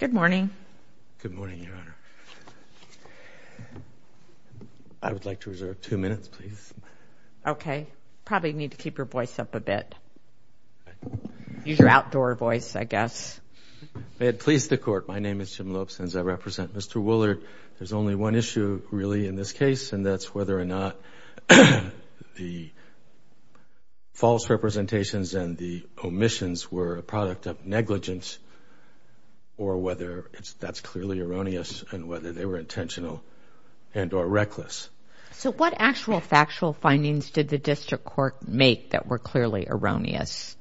Good morning. Good morning, Your Honor. I would like to reserve two minutes, please. Okay. You probably need to keep your voice up a bit. Use your outdoor voice, I guess. May it please the Court, my name is Jim Lopes, and as I represent Mr. Woolard, there's only one issue, really, in this case, and that's whether or not the false representations and the omissions were a product of negligence or whether that's clearly erroneous and whether they were intentional and or reckless. So what actual factual findings did the District Court make that were clearly erroneous?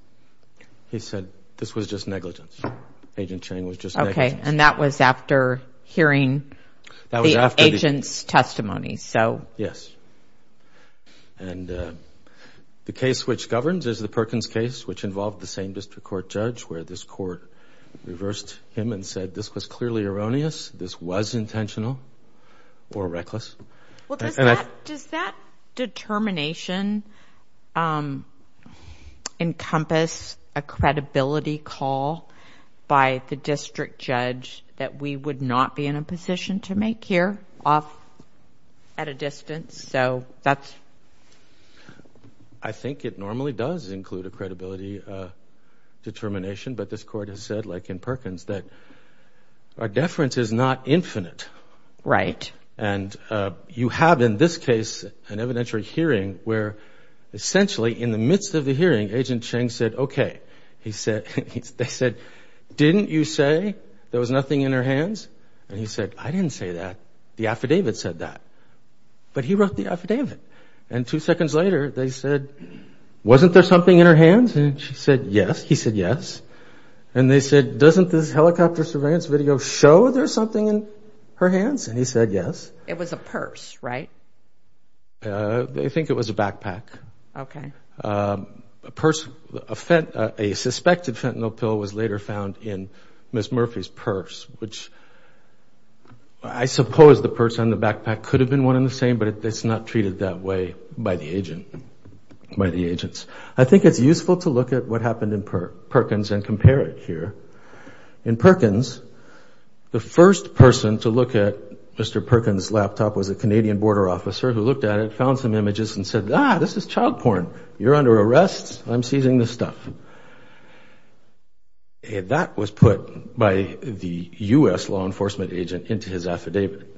He said this was just negligence. Agent Chang was just negligence. Okay. And that was after hearing the agent's testimony. Yes. And the case which governs is the Perkins case, which involved the same District Court judge, where this Court reversed him and said this was clearly erroneous, this was intentional or reckless. Well, does that determination encompass a credibility call by the District Judge that we would not be in a position to make here at a distance? I think it normally does include a credibility determination, but this Court has said, like in Perkins, that our deference is not infinite. Right. And you have, in this case, an evidentiary hearing where, essentially, in the midst of the hearing, Agent Chang said, okay. They said, didn't you say there was nothing in her hands? And he said, I didn't say that. The affidavit said that. But he wrote the affidavit. And two seconds later, they said, wasn't there something in her hands? And she said, yes. He said, yes. And they said, doesn't this helicopter surveillance video show there's something in her hands? And he said, yes. It was a purse, right? I think it was a backpack. Okay. A purse, a suspected fentanyl pill was later found in Ms. Murphy's purse, which I suppose the purse and the backpack could have been one in the same, but it's not treated that way by the agent, by the agents. I think it's useful to look at what happened in Perkins and compare it here. In Perkins, the first person to look at Mr. Perkins' laptop was a Canadian border officer who looked at it, found some images, and said, ah, this is child porn. You're under arrest. I'm seizing this stuff. That was put by the U.S. law enforcement agent into his affidavit.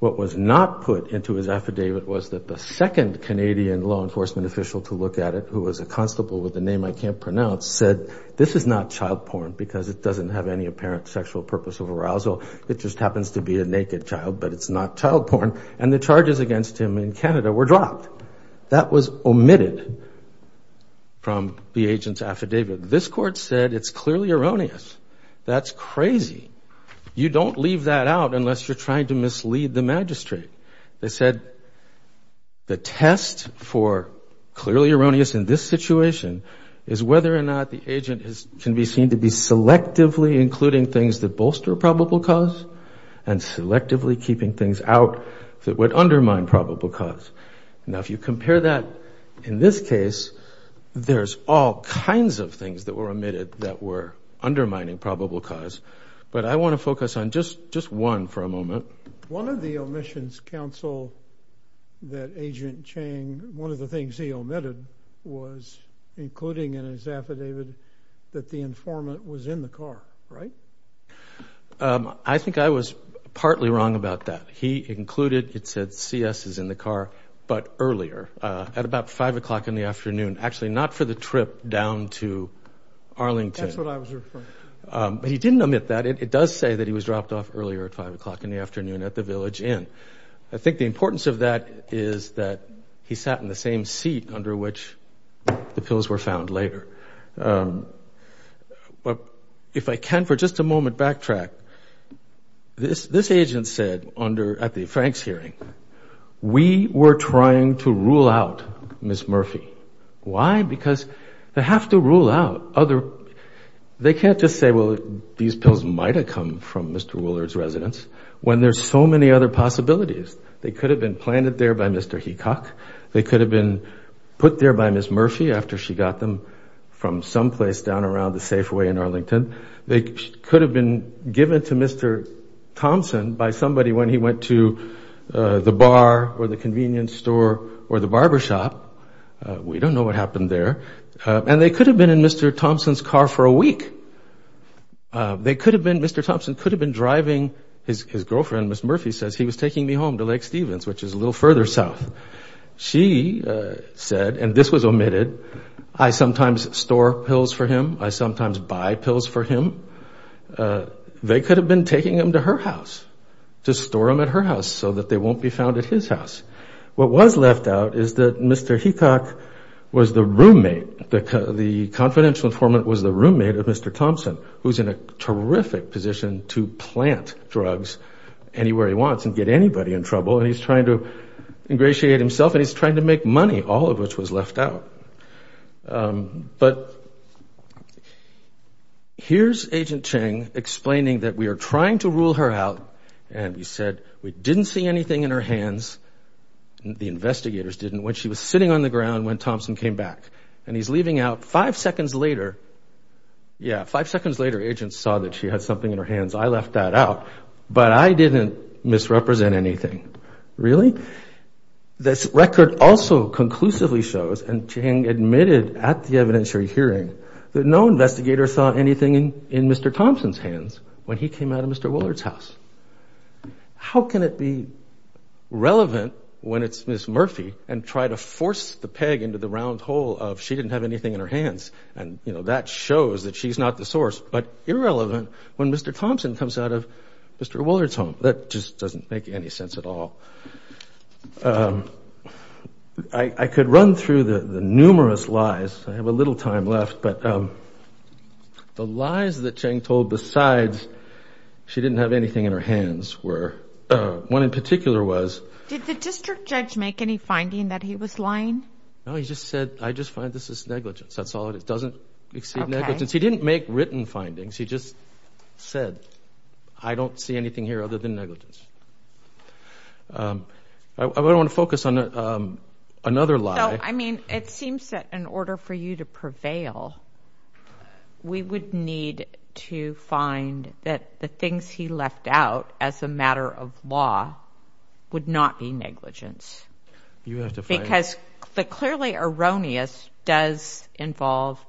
What was not put into his affidavit was that the second Canadian law enforcement official to look at it, who was a constable with a name I can't pronounce, said, this is not child porn because it doesn't have any apparent sexual purpose of arousal. It just happens to be a naked child, but it's not child porn. And the charges against him in Canada were dropped. That was omitted from the agent's affidavit. This court said it's clearly erroneous. That's crazy. You don't leave that out unless you're trying to mislead the magistrate. They said the test for clearly erroneous in this situation is whether or not the agent can be seen to be selectively including things that bolster probable cause and selectively keeping things out that would undermine probable cause. Now, if you compare that in this case, there's all kinds of things that were omitted that were undermining probable cause. One of the omissions, counsel, that Agent Chang, one of the things he omitted was including in his affidavit that the informant was in the car, right? I think I was partly wrong about that. He included, it said, CS is in the car, but earlier, at about 5 o'clock in the afternoon. Actually, not for the trip down to Arlington. That's what I was referring to. But he didn't omit that. It does say that he was dropped off earlier at 5 o'clock in the afternoon at the Village Inn. I think the importance of that is that he sat in the same seat under which the pills were found later. If I can for just a moment backtrack, this agent said at the Franks hearing, we were trying to rule out Ms. Murphy. Why? Because they have to rule out other. They can't just say, well, these pills might have come from Mr. Woolard's residence when there's so many other possibilities. They could have been planted there by Mr. Hecock. They could have been put there by Ms. Murphy after she got them from someplace down around the Safeway in Arlington. They could have been given to Mr. Thompson by somebody when he went to the bar or the convenience store or the barbershop. We don't know what happened there. And they could have been in Mr. Thompson's car for a week. They could have been, Mr. Thompson could have been driving. His girlfriend, Ms. Murphy, says he was taking me home to Lake Stevens, which is a little further south. She said, and this was omitted, I sometimes store pills for him. I sometimes buy pills for him. They could have been taking them to her house to store them at her house so that they won't be found at his house. What was left out is that Mr. Hecock was the roommate, the confidential informant was the roommate of Mr. Thompson, who's in a terrific position to plant drugs anywhere he wants and get anybody in trouble, and he's trying to ingratiate himself and he's trying to make money, all of which was left out. But here's Agent Cheng explaining that we are trying to rule her out, and we said we didn't see anything in her hands, the investigators didn't, when she was sitting on the ground when Thompson came back. And he's leaving out, five seconds later, yeah, five seconds later, agents saw that she had something in her hands. I left that out, but I didn't misrepresent anything. Really? This record also conclusively shows, and Cheng admitted at the evidentiary hearing, that no investigator saw anything in Mr. Thompson's hands when he came out of Mr. Woolard's house. How can it be relevant when it's Ms. Murphy and try to force the peg into the round hole of she didn't have anything in her hands, and that shows that she's not the source, but irrelevant when Mr. Thompson comes out of Mr. Woolard's home. That just doesn't make any sense at all. I could run through the numerous lies, I have a little time left, but the lies that Cheng told besides she didn't have anything in her hands were, one in particular was. Did the district judge make any finding that he was lying? No, he just said, I just find this is negligence. That's all it is. It doesn't exceed negligence. He didn't make written findings. He just said, I don't see anything here other than negligence. I want to focus on another lie. Well, I mean, it seems that in order for you to prevail, we would need to find that the things he left out as a matter of law would not be negligence. Because the clearly erroneous does involve,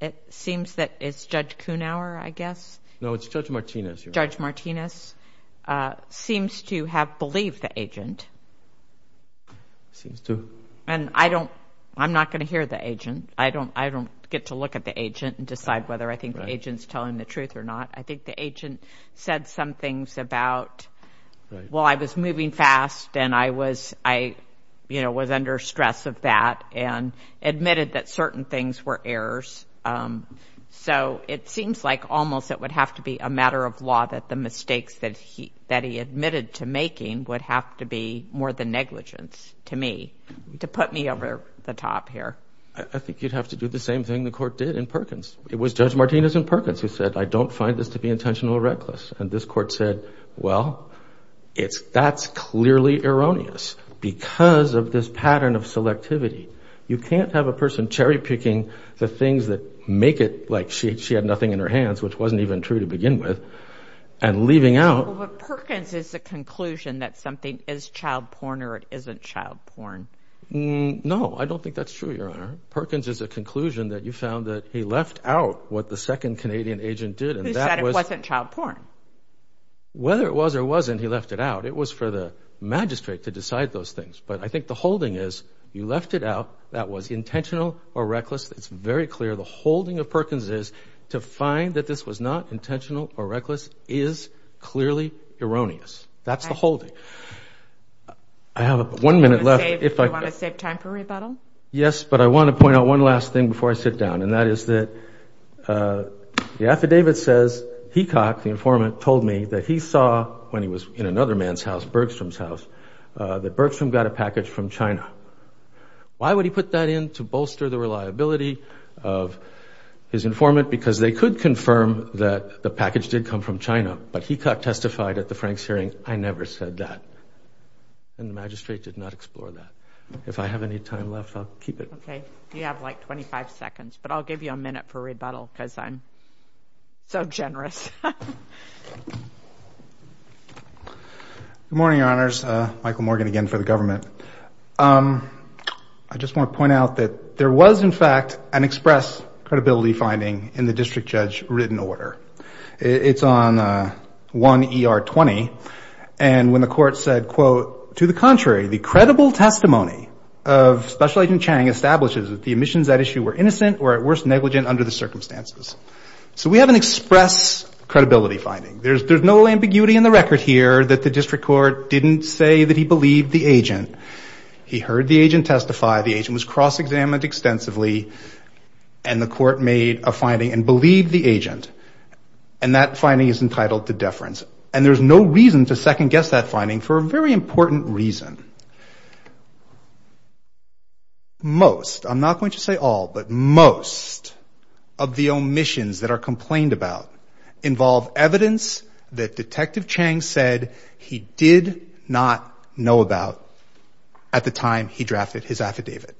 it seems that it's Judge Kuhnauer, I guess. No, it's Judge Martinez. Judge Martinez seems to have believed the agent. Seems to. And I don't, I'm not going to hear the agent. I don't get to look at the agent and decide whether I think the agent is telling the truth or not. I think the agent said some things about, well, I was moving fast and I was under stress of that and admitted that certain things were errors. So it seems like almost it would have to be a matter of law that the mistakes that he admitted to making would have to be more than negligence to me, to put me over the top here. I think you'd have to do the same thing the court did in Perkins. It was Judge Martinez in Perkins who said, I don't find this to be intentional or reckless. And this court said, well, that's clearly erroneous because of this pattern of selectivity. You can't have a person cherry-picking the things that make it like she had nothing in her hands, which wasn't even true to begin with, and leaving out. Well, but Perkins is the conclusion that something is child porn or it isn't child porn. No, I don't think that's true, Your Honor. Perkins is a conclusion that you found that he left out what the second Canadian agent did. Who said it wasn't child porn? Whether it was or wasn't, he left it out. It was for the magistrate to decide those things. But I think the holding is you left it out that was intentional or reckless. It's very clear the holding of Perkins is to find that this was not intentional or reckless is clearly erroneous. That's the holding. I have one minute left. Do you want to save time for rebuttal? Yes, but I want to point out one last thing before I sit down, and that is that the affidavit says, Hecox, the informant, told me that he saw when he was in another man's house, Bergstrom's house, that Bergstrom got a package from China. Why would he put that in to bolster the reliability of his informant? Because they could confirm that the package did come from China, but Hecox testified at the Franks hearing, I never said that, and the magistrate did not explore that. If I have any time left, I'll keep it. Okay. You have, like, 25 seconds, but I'll give you a minute for rebuttal because I'm so generous. Good morning, Your Honors. Michael Morgan again for the government. I just want to point out that there was, in fact, an express credibility finding in the district judge written order. It's on 1 ER 20, and when the court said, quote, To the contrary, the credible testimony of Special Agent Chang establishes that the omissions at issue were innocent or, at worst, negligent under the circumstances. So we have an express credibility finding. There's no ambiguity in the record here that the district court didn't say that he believed the agent. He heard the agent testify. The agent was cross-examined extensively, and the court made a finding and believed the agent, and that finding is entitled to deference. And there's no reason to second-guess that finding for a very important reason. Most, I'm not going to say all, but most of the omissions that are complained about involve evidence that Detective Chang said he did not know about at the time he drafted his affidavit.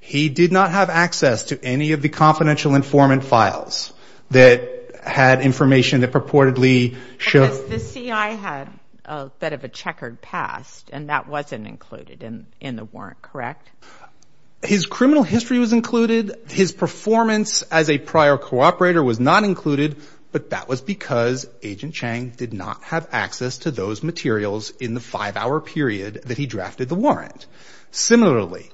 He did not have access to any of the confidential informant files that had information that purportedly showed The CI had a bit of a checkered past, and that wasn't included in the warrant, correct? His criminal history was included. His performance as a prior cooperator was not included, but that was because Agent Chang did not have access to those materials in the five-hour period that he drafted the warrant. Similarly,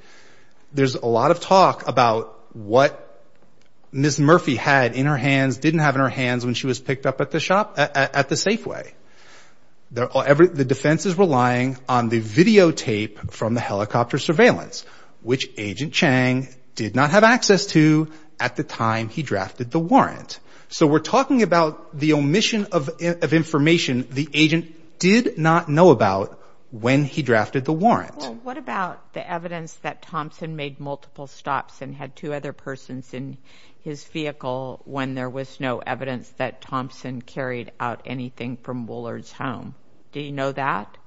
there's a lot of talk about what Ms. Murphy had in her hands, when she was picked up at the Safeway. The defense is relying on the videotape from the helicopter surveillance, which Agent Chang did not have access to at the time he drafted the warrant. So we're talking about the omission of information the agent did not know about when he drafted the warrant. Well, what about the evidence that Thompson made multiple stops and had two other persons in his vehicle when there was no evidence that Thompson carried out anything from Woolard's home? Do you know that?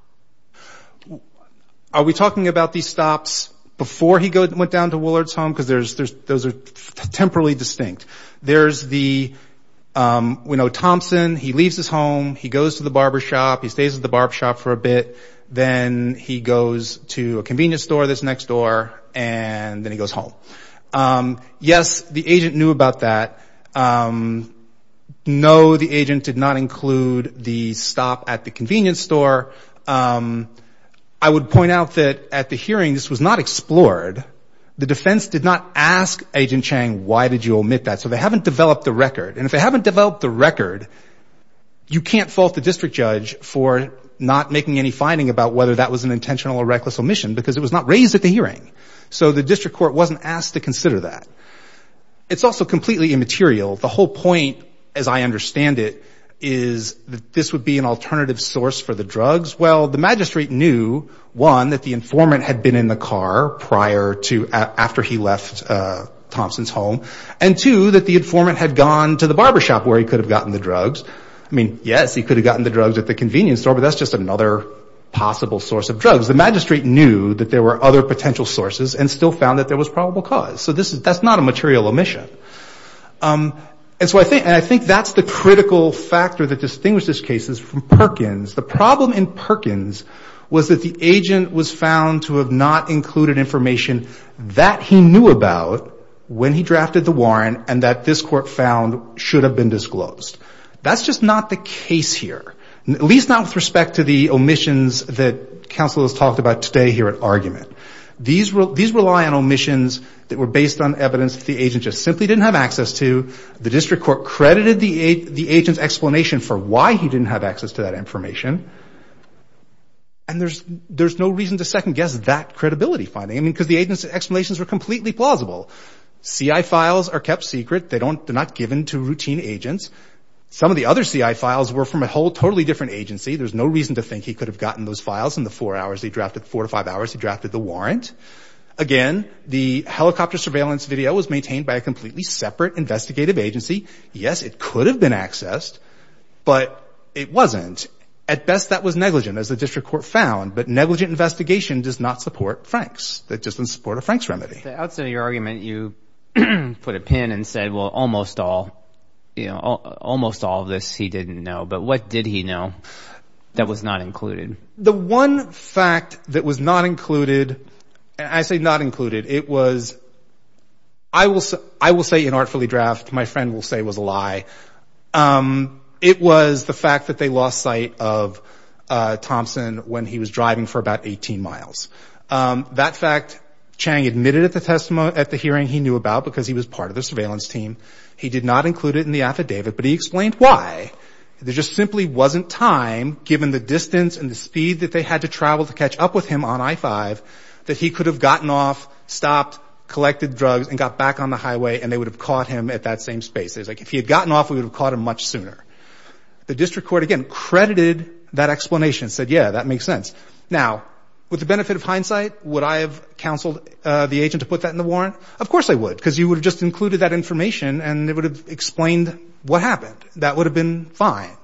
Are we talking about these stops before he went down to Woolard's home? Because those are temporally distinct. We know Thompson, he leaves his home, he goes to the barbershop, he stays at the barbershop for a bit, then he goes to a convenience store that's next door, and then he goes home. Yes, the agent knew about that. No, the agent did not include the stop at the convenience store. I would point out that at the hearing, this was not explored. The defense did not ask Agent Chang, why did you omit that? So they haven't developed a record, and if they haven't developed a record, you can't fault the district judge for not making any finding about whether that was an intentional or reckless omission, because it was not raised at the hearing. So the district court wasn't asked to consider that. It's also completely immaterial. The whole point, as I understand it, is that this would be an alternative source for the drugs. Well, the magistrate knew, one, that the informant had been in the car prior to after he left Thompson's home, and two, that the informant had gone to the barbershop where he could have gotten the drugs. I mean, yes, he could have gotten the drugs at the convenience store, but that's just another possible source of drugs. The magistrate knew that there were other potential sources and still found that there was probable cause. So that's not a material omission. And so I think that's the critical factor that distinguishes cases from Perkins. The problem in Perkins was that the agent was found to have not included information that he knew about when he drafted the warrant and that this court found should have been disclosed. That's just not the case here, at least not with respect to the omissions that counsel has talked about today here at argument. These rely on omissions that were based on evidence that the agent just simply didn't have access to. The district court credited the agent's explanation for why he didn't have access to that information. And there's no reason to second-guess that credibility finding, I mean, because the agent's explanations were completely plausible. CI files are kept secret. They're not given to routine agents. Some of the other CI files were from a whole totally different agency. There's no reason to think he could have gotten those files in the four hours he drafted, four to five hours he drafted the warrant. Again, the helicopter surveillance video was maintained by a completely separate investigative agency. Yes, it could have been accessed, but it wasn't. At best, that was negligent, as the district court found. But negligent investigation does not support Franks. That doesn't support a Franks remedy. At the outset of your argument, you put a pin and said, well, almost all of this he didn't know. But what did he know that was not included? The one fact that was not included, and I say not included, it was, I will say inartfully draft. My friend will say it was a lie. It was the fact that they lost sight of Thompson when he was driving for about 18 miles. That fact, Chang admitted at the hearing he knew about because he was part of the surveillance team. He did not include it in the affidavit, but he explained why. There just simply wasn't time, given the distance and the speed that they had to travel to catch up with him on I-5, that he could have gotten off, stopped, collected drugs, and got back on the highway, and they would have caught him at that same space. Like, if he had gotten off, we would have caught him much sooner. The district court, again, credited that explanation and said, yeah, that makes sense. Now, with the benefit of hindsight, would I have counseled the agent to put that in the warrant? Of course I would, because you would have just included that information, and it would have explained what happened. That would have been fine.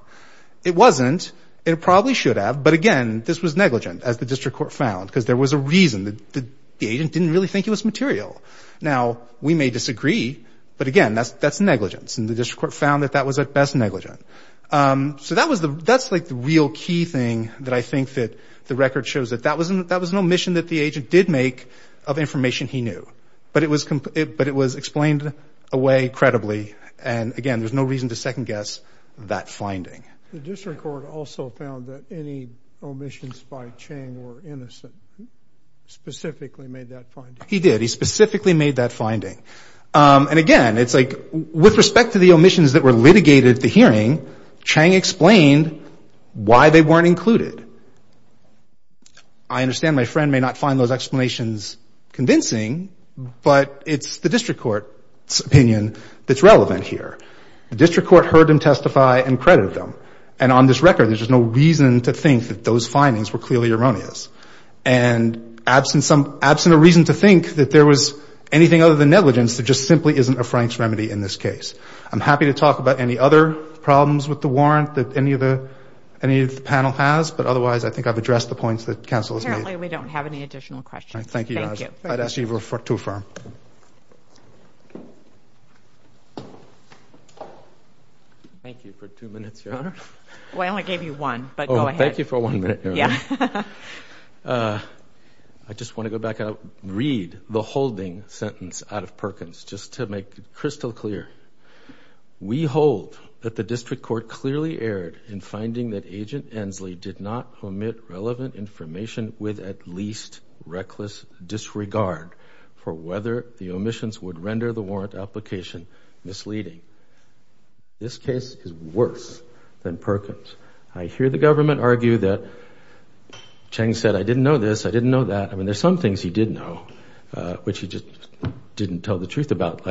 It wasn't. It probably should have. But, again, this was negligent, as the district court found, because there was a reason. The agent didn't really think it was material. Now, we may disagree, but, again, that's negligence, and the district court found that that was, at best, negligent. So that's, like, the real key thing that I think that the record shows, that that was an omission that the agent did make of information he knew, but it was explained away credibly, and, again, there's no reason to second-guess that finding. The district court also found that any omissions by Chang were innocent. He specifically made that finding. He did. He specifically made that finding. And, again, it's, like, with respect to the omissions that were litigated at the hearing, Chang explained why they weren't included. I understand my friend may not find those explanations convincing, but it's the district court's opinion that's relevant here. The district court heard him testify and credited him, and on this record there's just no reason to think that those findings were clearly erroneous. And absent a reason to think that there was anything other than negligence, there just simply isn't a Frank's remedy in this case. I'm happy to talk about any other problems with the warrant that any of the panel has, but otherwise I think I've addressed the points that counsel has made. Apparently we don't have any additional questions. Thank you, Your Honor. Thank you. I'd ask you to affirm. Thank you for two minutes, Your Honor. Well, I only gave you one, but go ahead. Thank you for one minute, Your Honor. Yeah. I just want to go back out and read the holding sentence out of Perkins just to make it crystal clear. We hold that the district court clearly erred in finding that Agent Ensley did not omit relevant information with at least reckless disregard for whether the omissions would render the warrant application misleading. This case is worse than Perkins. I hear the government argue that Cheng said, I didn't know this, I didn't know that. I mean, there's some things he did know, which he just didn't tell the truth about.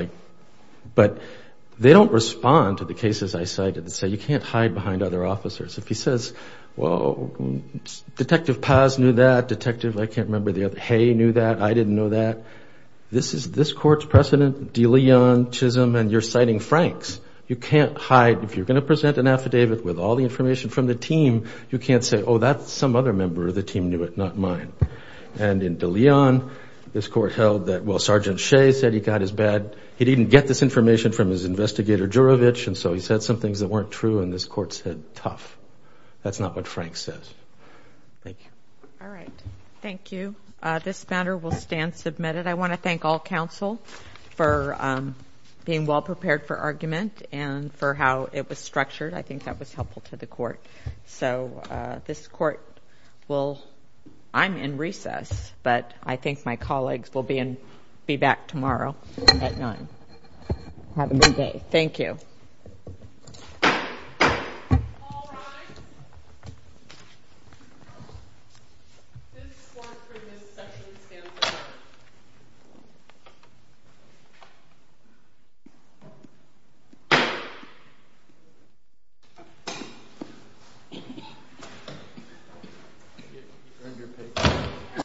But they don't respond to the cases I cited that say you can't hide behind other officers. If he says, well, Detective Paz knew that. Detective, I can't remember, Hay knew that. I didn't know that. This court's precedent, de Leon, Chisholm, and you're citing Franks. You can't hide, if you're going to present an affidavit with all the information from the team, you can't say, oh, that's some other member of the team knew it, not mine. And in de Leon, this court held that, well, Sergeant Shea said he got his bad. He didn't get this information from his investigator, Juravich, and so he said some things that weren't true, and this court said, tough. That's not what Franks says. Thank you. All right. Thank you. This matter will stand submitted. I want to thank all counsel for being well prepared for argument and for how it was structured. I think that was helpful to the court. So this court will ‑‑ I'm in recess, but I think my colleagues will be back tomorrow at 9. Have a good day. Thank you. All rise. This court for this session stands adjourned.